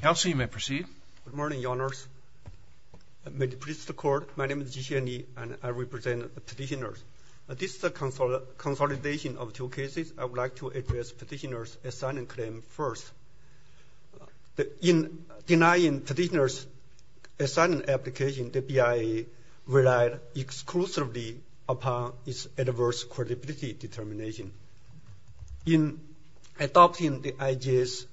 Kelsey, you may proceed. Good morning, Your Honors. May it please the Court, my name is Ji-Hsien Lee, and I represent petitioners. This is a consolidation of two cases. I would like to address petitioner's asylum claim first. In denying petitioner's asylum application, the BIA relied exclusively upon its adverse credibility determination. In adopting the IJ's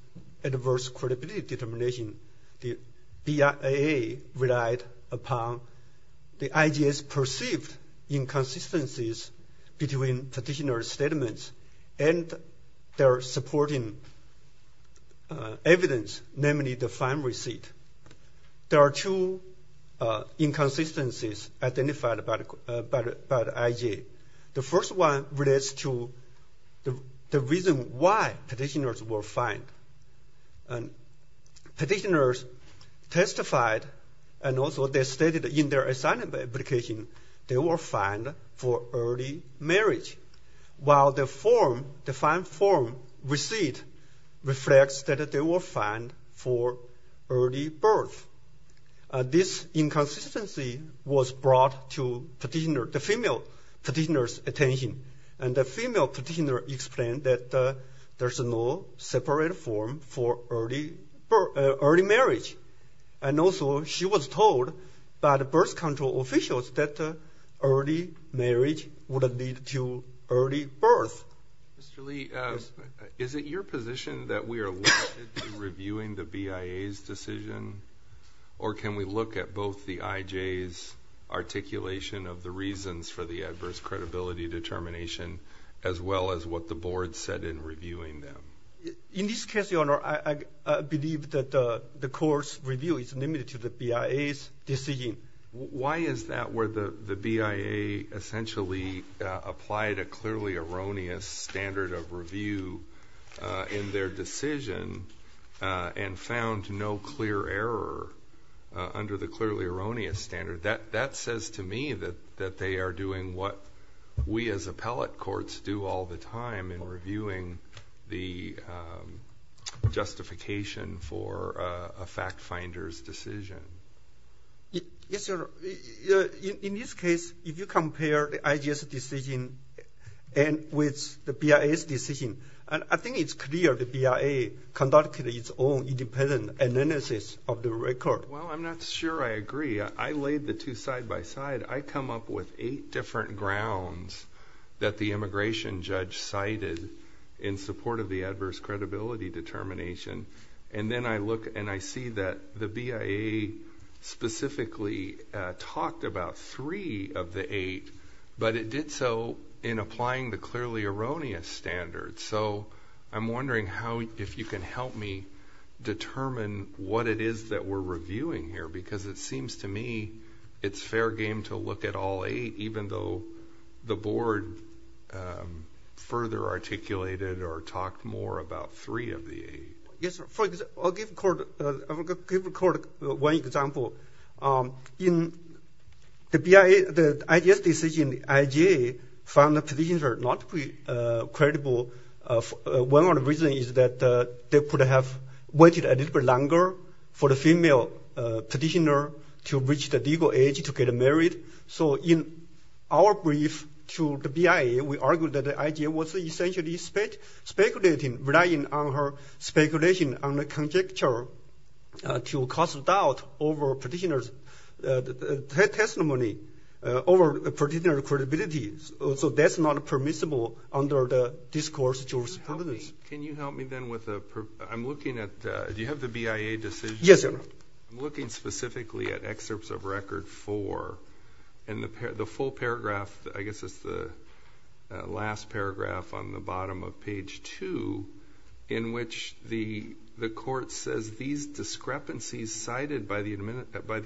adverse credibility determination, the BIA relied upon the IJ's perceived inconsistencies between petitioner's statements and their supporting evidence, namely the fine receipt. There are two inconsistencies identified by the IJ. The first one relates to the reason why petitioners were fined. Petitioners testified and also they stated in their asylum application they were fined for early marriage, while the fine form receipt reflects that they were fined for early birth. This inconsistency was brought to the female petitioner's attention, and the female petitioner explained that there's no separate form for early marriage. And also she was told by the birth control officials that early marriage would lead to early birth. Mr. Lee, is it your position that we are limited to reviewing the BIA's decision? Or can we look at both the IJ's articulation of the reasons for the adverse credibility determination, as well as what the board said in reviewing them? In this case, Your Honor, I believe that the court's review is limited to the BIA's decision. Why is that where the BIA essentially applied a clearly erroneous standard of review in their decision and found no clear error under the clearly erroneous standard? That says to me that they are doing what we as appellate courts do all the time in reviewing the justification for a fact finder's decision. Yes, sir. In this case, if you compare the IJ's decision with the BIA's decision, I think it's clear the BIA conducted its own independent analysis of the record. Well, I'm not sure I agree. I laid the two side by side. I come up with eight different grounds that the immigration judge cited in support of the adverse credibility determination, and then I look and I see that the BIA specifically talked about three of the eight, but it did so in applying the clearly erroneous standard. So I'm wondering if you can help me determine what it is that we're reviewing here because it seems to me it's fair game to look at all eight, even though the board further articulated or talked more about three of the eight. Yes, sir. I'll give the court one example. In the IJ's decision, the IJ found the positions are not credible. One reason is that they could have waited a little bit longer for the female petitioner to reach the legal age to get married. So in our brief to the BIA, we argued that the IJ was essentially speculating, relying on her speculation on the conjecture to cause doubt over petitioner's testimony, over petitioner's credibility. So that's not permissible under the discourse of the jurisprudence. Can you help me then with a per-I'm looking at-do you have the BIA decision? Yes, sir. I'm looking specifically at excerpts of record four, and the full paragraph, I guess it's the last paragraph on the bottom of page two, in which the court says these discrepancies cited by the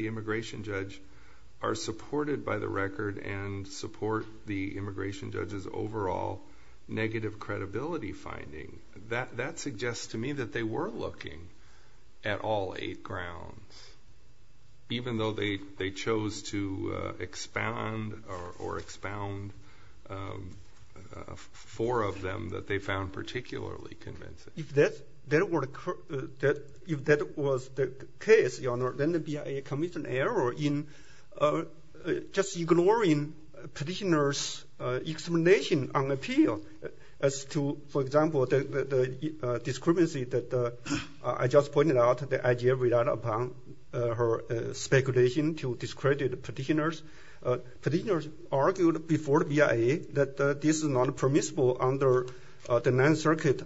immigration judge are supported by the record and support the immigration judge's overall negative credibility finding. That suggests to me that they were looking at all eight grounds, even though they chose to expound or expound four of them that they found particularly convincing. If that was the case, Your Honor, then the BIA committed an error in just ignoring petitioner's explanation on appeal as to, for example, the discrepancy that I just pointed out, the IJ relied upon her speculation to discredit petitioners. Petitioners argued before the BIA that this is not permissible under the Ninth Circuit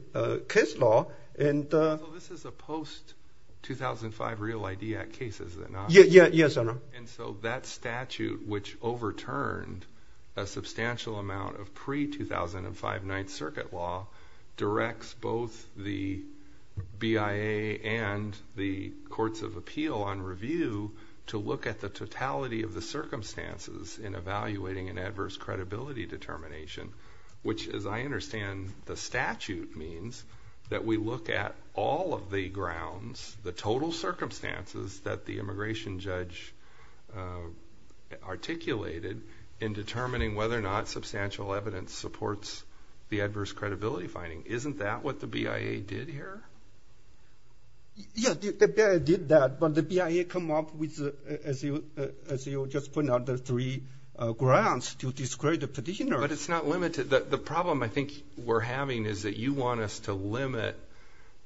case law. So this is a post-2005 Real ID Act case, is it not? Yes, Your Honor. And so that statute, which overturned a substantial amount of pre-2005 Ninth Circuit law, directs both the BIA and the courts of appeal on review to look at the totality of the circumstances in evaluating an adverse credibility determination, which as I understand the statute means that we look at all of the grounds, the total circumstances that the immigration judge articulated in determining whether or not substantial evidence supports the adverse credibility finding. Isn't that what the BIA did here? Yes, the BIA did that, but the BIA come up with, as you just pointed out, the three grounds to discredit the petitioner. But it's not limited. The problem I think we're having is that you want us to limit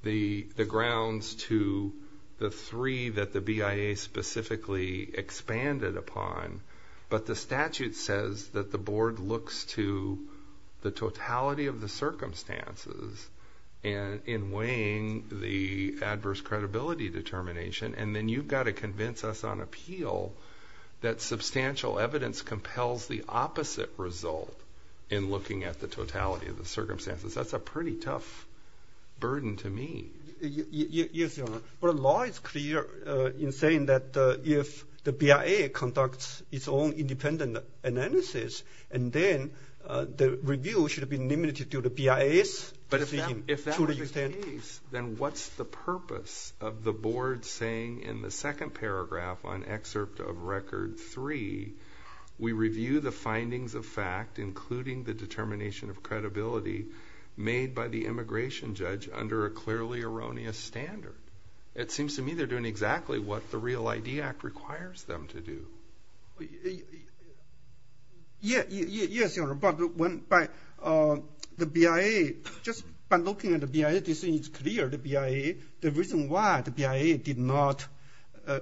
the grounds to the three that the BIA specifically expanded upon, but the statute says that the board looks to the totality of the circumstances in weighing the adverse credibility determination, and then you've got to convince us on appeal that substantial evidence compels the opposite result in looking at the totality of the circumstances. That's a pretty tough burden to me. Yes, Your Honor. But the law is clear in saying that if the BIA conducts its own independent analysis and then the review should be limited to the BIA's decision. But if that was the case, then what's the purpose of the board saying in the second paragraph on excerpt of Record 3, made by the immigration judge under a clearly erroneous standard? It seems to me they're doing exactly what the REAL ID Act requires them to do. Yes, Your Honor, but the BIA, just by looking at the BIA, this is clear, the BIA. The reason why the BIA did not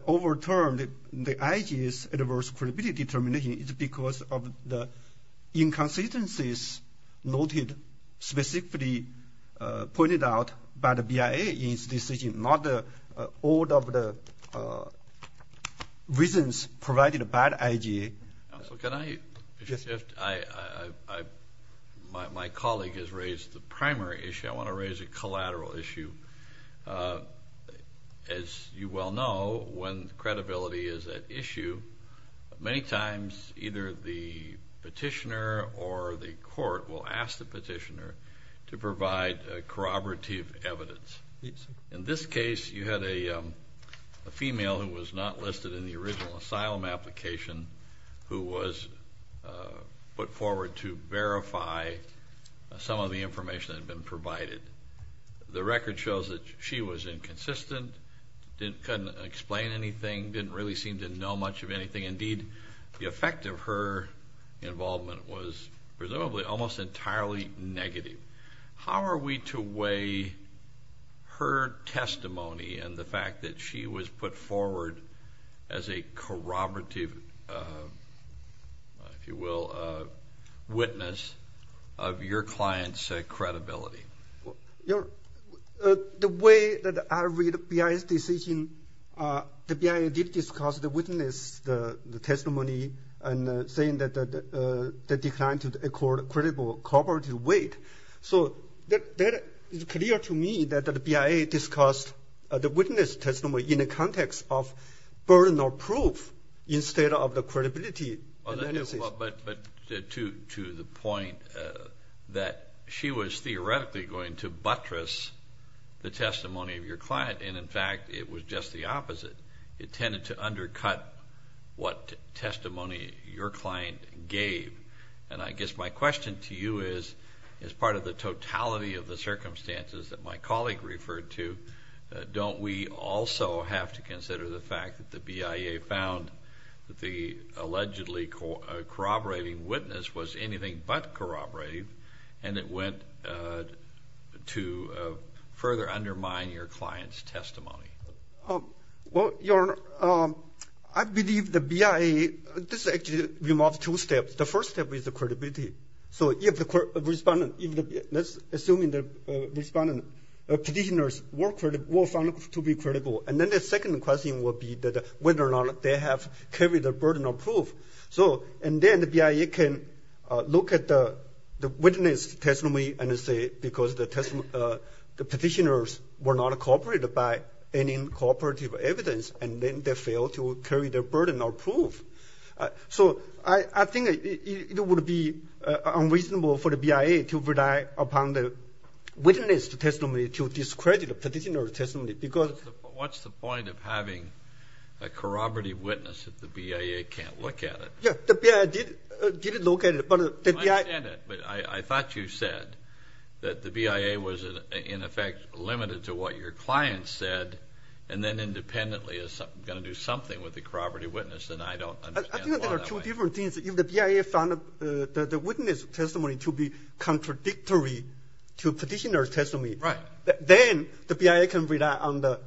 overturn the IG's adverse credibility determination is because of the inconsistencies noted specifically pointed out by the BIA in its decision, not all of the reasons provided by the IG. Counsel, can I? Yes. My colleague has raised the primary issue. I want to raise a collateral issue. As you well know, when credibility is at issue, many times either the petitioner or the court will ask the petitioner to provide corroborative evidence. In this case, you had a female who was not listed in the original asylum application who was put forward to verify some of the information that had been provided. The record shows that she was inconsistent, couldn't explain anything, didn't really seem to know much of anything. Indeed, the effect of her involvement was presumably almost entirely negative. How are we to weigh her testimony and the fact that she was put forward as a corroborative, if you will, witness of your client's credibility? The way that I read BIA's decision, the BIA did discuss the witness testimony and saying that they declined to accord a credible corroborative weight. So that is clear to me that the BIA discussed the witness testimony in the context of burden or proof instead of the credibility. But to the point that she was theoretically going to buttress the testimony of your client, and in fact it was just the opposite. It tended to undercut what testimony your client gave. And I guess my question to you is, as part of the totality of the circumstances that my colleague referred to, don't we also have to consider the fact that the BIA found that the allegedly corroborating witness was anything but corroborative and it went to further undermine your client's testimony? Well, Your Honor, I believe the BIA, this actually involves two steps. The first step is the credibility. So if the respondent, let's assume the respondent, the petitioners were found to be credible, and then the second question would be whether or not they have carried the burden of proof. And then the BIA can look at the witness testimony and say because the petitioners were not corroborated by any corroborative evidence and then they failed to carry the burden of proof. So I think it would be unreasonable for the BIA to rely upon the witness testimony to discredit the petitioner's testimony. What's the point of having a corroborative witness if the BIA can't look at it? Yeah, the BIA did look at it. I understand it, but I thought you said that the BIA was in effect limited to what your client said and then independently is going to do something with the corroborative witness, and I don't understand why that way. I think there are two different things. If the BIA found the witness testimony to be contradictory to the petitioner's testimony, then the BIA can rely on the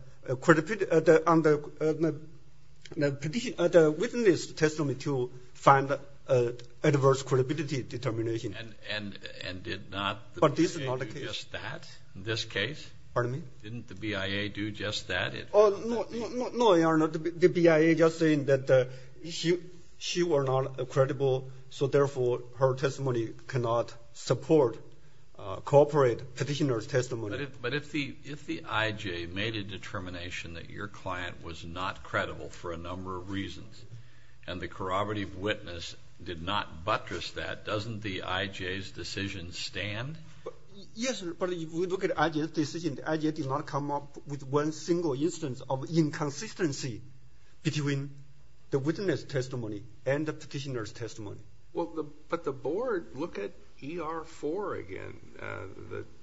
witness testimony to find adverse credibility determination. And did not the BIA do just that in this case? Pardon me? Didn't the BIA do just that? No, Your Honor, the BIA just saying that she was not credible, so therefore her testimony cannot support corroborated petitioner's testimony. But if the IJ made a determination that your client was not credible for a number of reasons and the corroborative witness did not buttress that, doesn't the IJ's decision stand? Yes, but if we look at the IJ's decision, the IJ did not come up with one single instance of inconsistency between the witness testimony and the petitioner's testimony. Well, but the board, look at ER-4 again,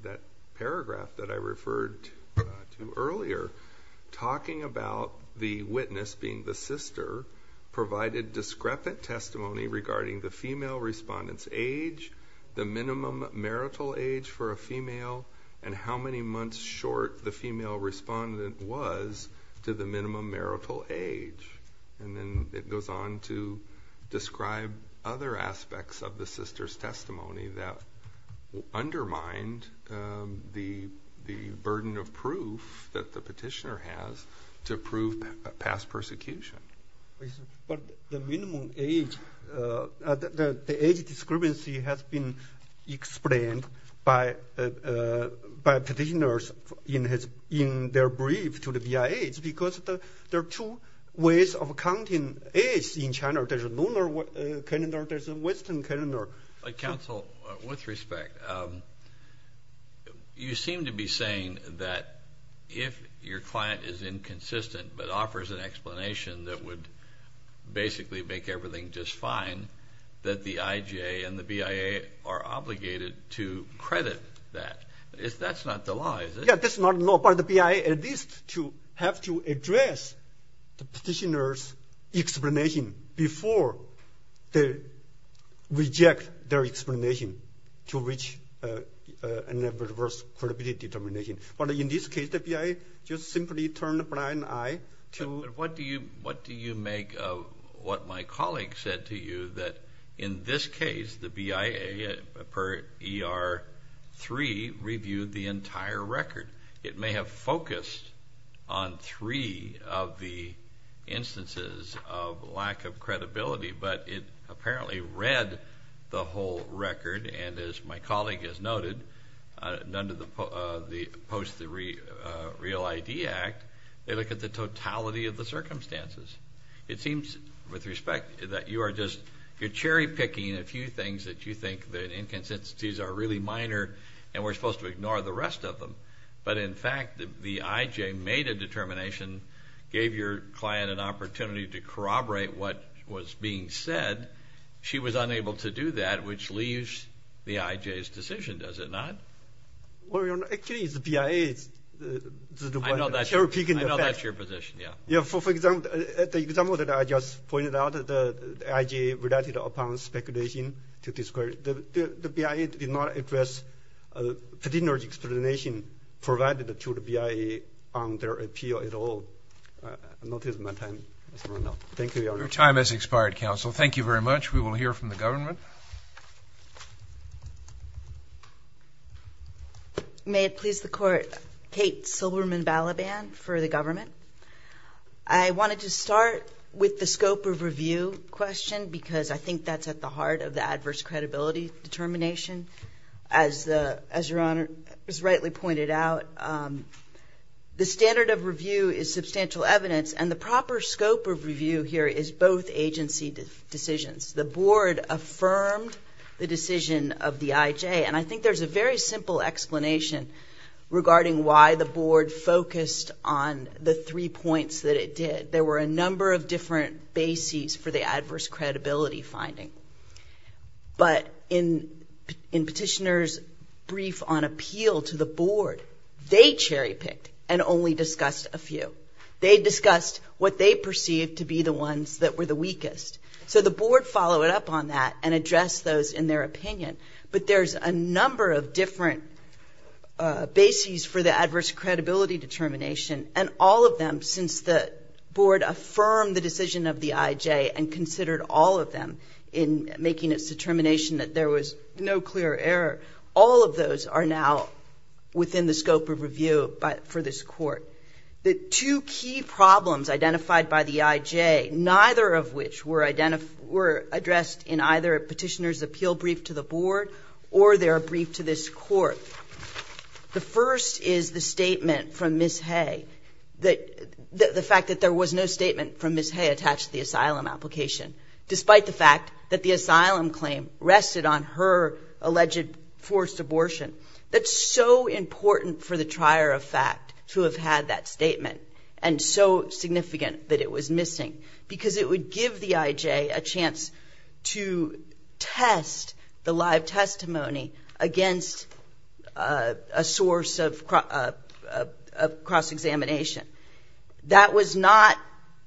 that paragraph that I referred to earlier, talking about the witness being the sister, provided discrepant testimony regarding the female respondent's age, the minimum marital age for a female, and how many months short the female respondent was to the minimum marital age. And then it goes on to describe other aspects of the sister's testimony that undermined the burden of proof that the petitioner has to prove past persecution. But the minimum age, the age discrepancy has been explained by petitioners in their brief to the VIH because there are two ways of counting age in China. There's a lunar calendar, there's a western calendar. Counsel, with respect, you seem to be saying that if your client is inconsistent but offers an explanation that would basically make everything just fine, that the IJ and the BIA are obligated to credit that. That's not the law, is it? Yeah, that's not the law, but the BIA at least to have to address the petitioner's explanation before they reject their explanation to reach an adverse credibility determination. But in this case the BIA just simply turned a blind eye to What do you make of what my colleague said to you, that in this case the BIA per ER-3 reviewed the entire record? It may have focused on three of the instances of lack of credibility, but it apparently read the whole record. And as my colleague has noted, post the Real ID Act, they look at the totality of the circumstances. It seems, with respect, that you are just cherry-picking a few things that you think that inconsistencies are really minor and we're supposed to ignore the rest of them. But in fact, the IJ made a determination, gave your client an opportunity to corroborate what was being said. She was unable to do that, which leaves the IJ's decision, does it not? Well, Your Honor, actually it's the BIA's. I know that's your position, yeah. Yeah, for example, the example that I just pointed out, the IJ relied upon speculation to disclose. The BIA did not address the petitioner's explanation provided to the BIA on their appeal at all. I'm not using my time. Thank you, Your Honor. Your time has expired, counsel. Thank you very much. We will hear from the government. May it please the Court, Kate Silberman-Balaban for the government. I wanted to start with the scope of review question because I think that's at the heart of the adverse credibility determination. As Your Honor has rightly pointed out, the standard of review is substantial evidence, and the proper scope of review here is both agency decisions. The Board affirmed the decision of the IJ, and I think there's a very simple explanation regarding why the Board focused on the three points that it did. There were a number of different bases for the adverse credibility finding. But in petitioner's brief on appeal to the Board, they cherry-picked and only discussed a few. They discussed what they perceived to be the ones that were the weakest. So the Board followed up on that and addressed those in their opinion. But there's a number of different bases for the adverse credibility determination, and all of them, since the Board affirmed the decision of the IJ and considered all of them in making its determination that there was no clear error, all of those are now within the scope of review for this Court. The two key problems identified by the IJ, neither of which were addressed in either a petitioner's appeal brief to the Board or their brief to this Court. The first is the statement from Ms. Hay, the fact that there was no statement from Ms. Hay attached to the asylum application, despite the fact that the asylum claim rested on her alleged forced abortion. That's so important for the trier of fact to have had that statement and so significant that it was missing, because it would give the IJ a chance to test the live testimony against a source of cross-examination. That was not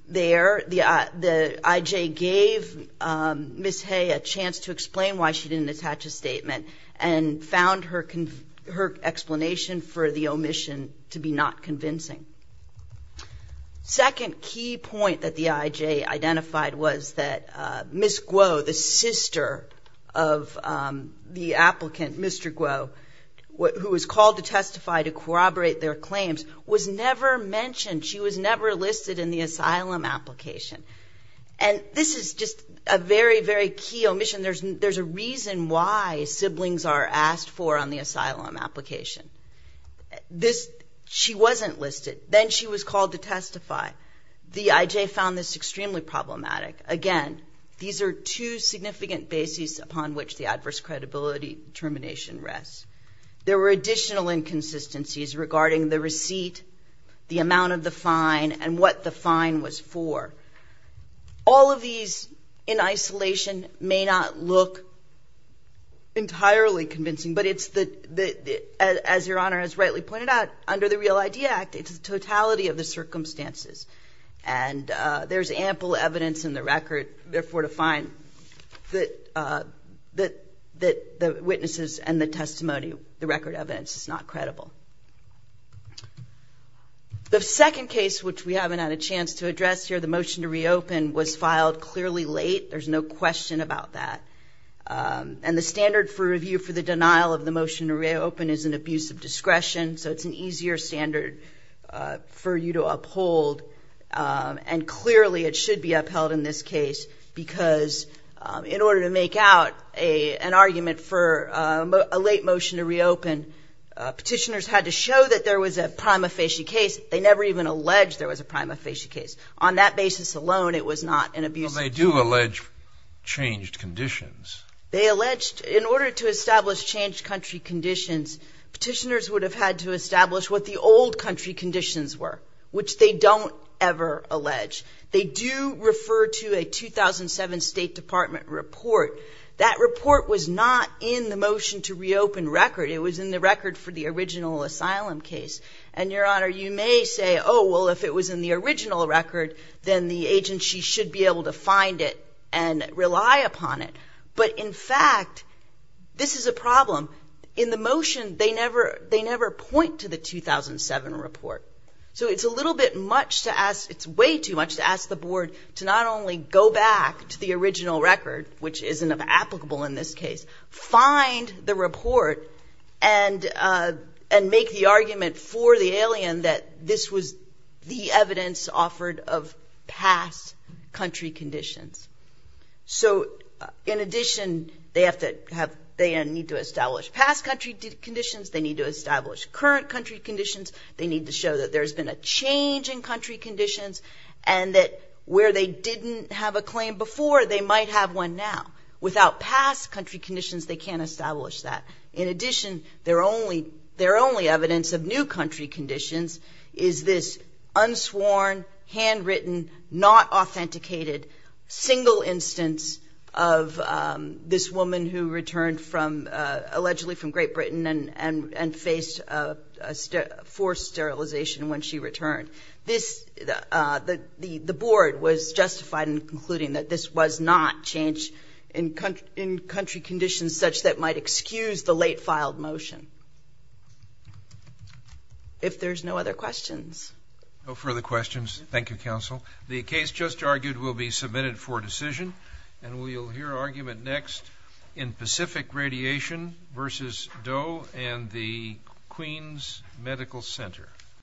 there. The IJ gave Ms. Hay a chance to explain why she didn't attach a statement and found her explanation for the omission to be not convincing. Second key point that the IJ identified was that Ms. Guo, the sister of the applicant, Mr. Guo, who was called to testify to corroborate their claims, was never mentioned. She was never listed in the asylum application. And this is just a very, very key omission. There's a reason why siblings are asked for on the asylum application. She wasn't listed. Then she was called to testify. The IJ found this extremely problematic. Again, these are two significant bases upon which the adverse credibility determination rests. There were additional inconsistencies regarding the receipt, the amount of the fine, and what the fine was for. All of these, in isolation, may not look entirely convincing, but it's the, as Your Honor has rightly pointed out, under the Real ID Act, it's the totality of the circumstances. And there's ample evidence in the record, therefore, to find that the witnesses and the testimony, the record evidence, is not credible. The second case, which we haven't had a chance to address here, the motion to reopen, was filed clearly late. There's no question about that. And the standard for review for the denial of the motion to reopen is an abuse of discretion, so it's an easier standard for you to uphold. And clearly it should be upheld in this case, because in order to make out an argument for a late motion to reopen, petitioners had to show that there was a prima facie case. They never even alleged there was a prima facie case. On that basis alone, it was not an abuse of discretion. But they do allege changed conditions. They alleged, in order to establish changed country conditions, petitioners would have had to establish what the old country conditions were, which they don't ever allege. They do refer to a 2007 State Department report. That report was not in the motion to reopen record. It was in the record for the original asylum case. And, Your Honor, you may say, oh, well, if it was in the original record, then the agency should be able to find it and rely upon it. But, in fact, this is a problem. In the motion, they never point to the 2007 report. So it's a little bit much to ask the board to not only go back to the original record, which isn't applicable in this case, find the report and make the argument for the alien that this was the evidence offered of past country conditions. So, in addition, they need to establish past country conditions. They need to establish current country conditions. They need to show that there's been a change in country conditions and that where they didn't have a claim before, they might have one now. Without past country conditions, they can't establish that. In addition, their only evidence of new country conditions is this unsworn, handwritten, not authenticated single instance of this woman who returned from allegedly from Great Britain and faced forced sterilization when she returned. The board was justified in concluding that this was not change in country conditions such that might excuse the late filed motion. If there's no other questions. No further questions. Thank you, counsel. The case just argued will be submitted for decision. And we'll hear argument next in Pacific Radiation versus Doe and the Queens Medical Center.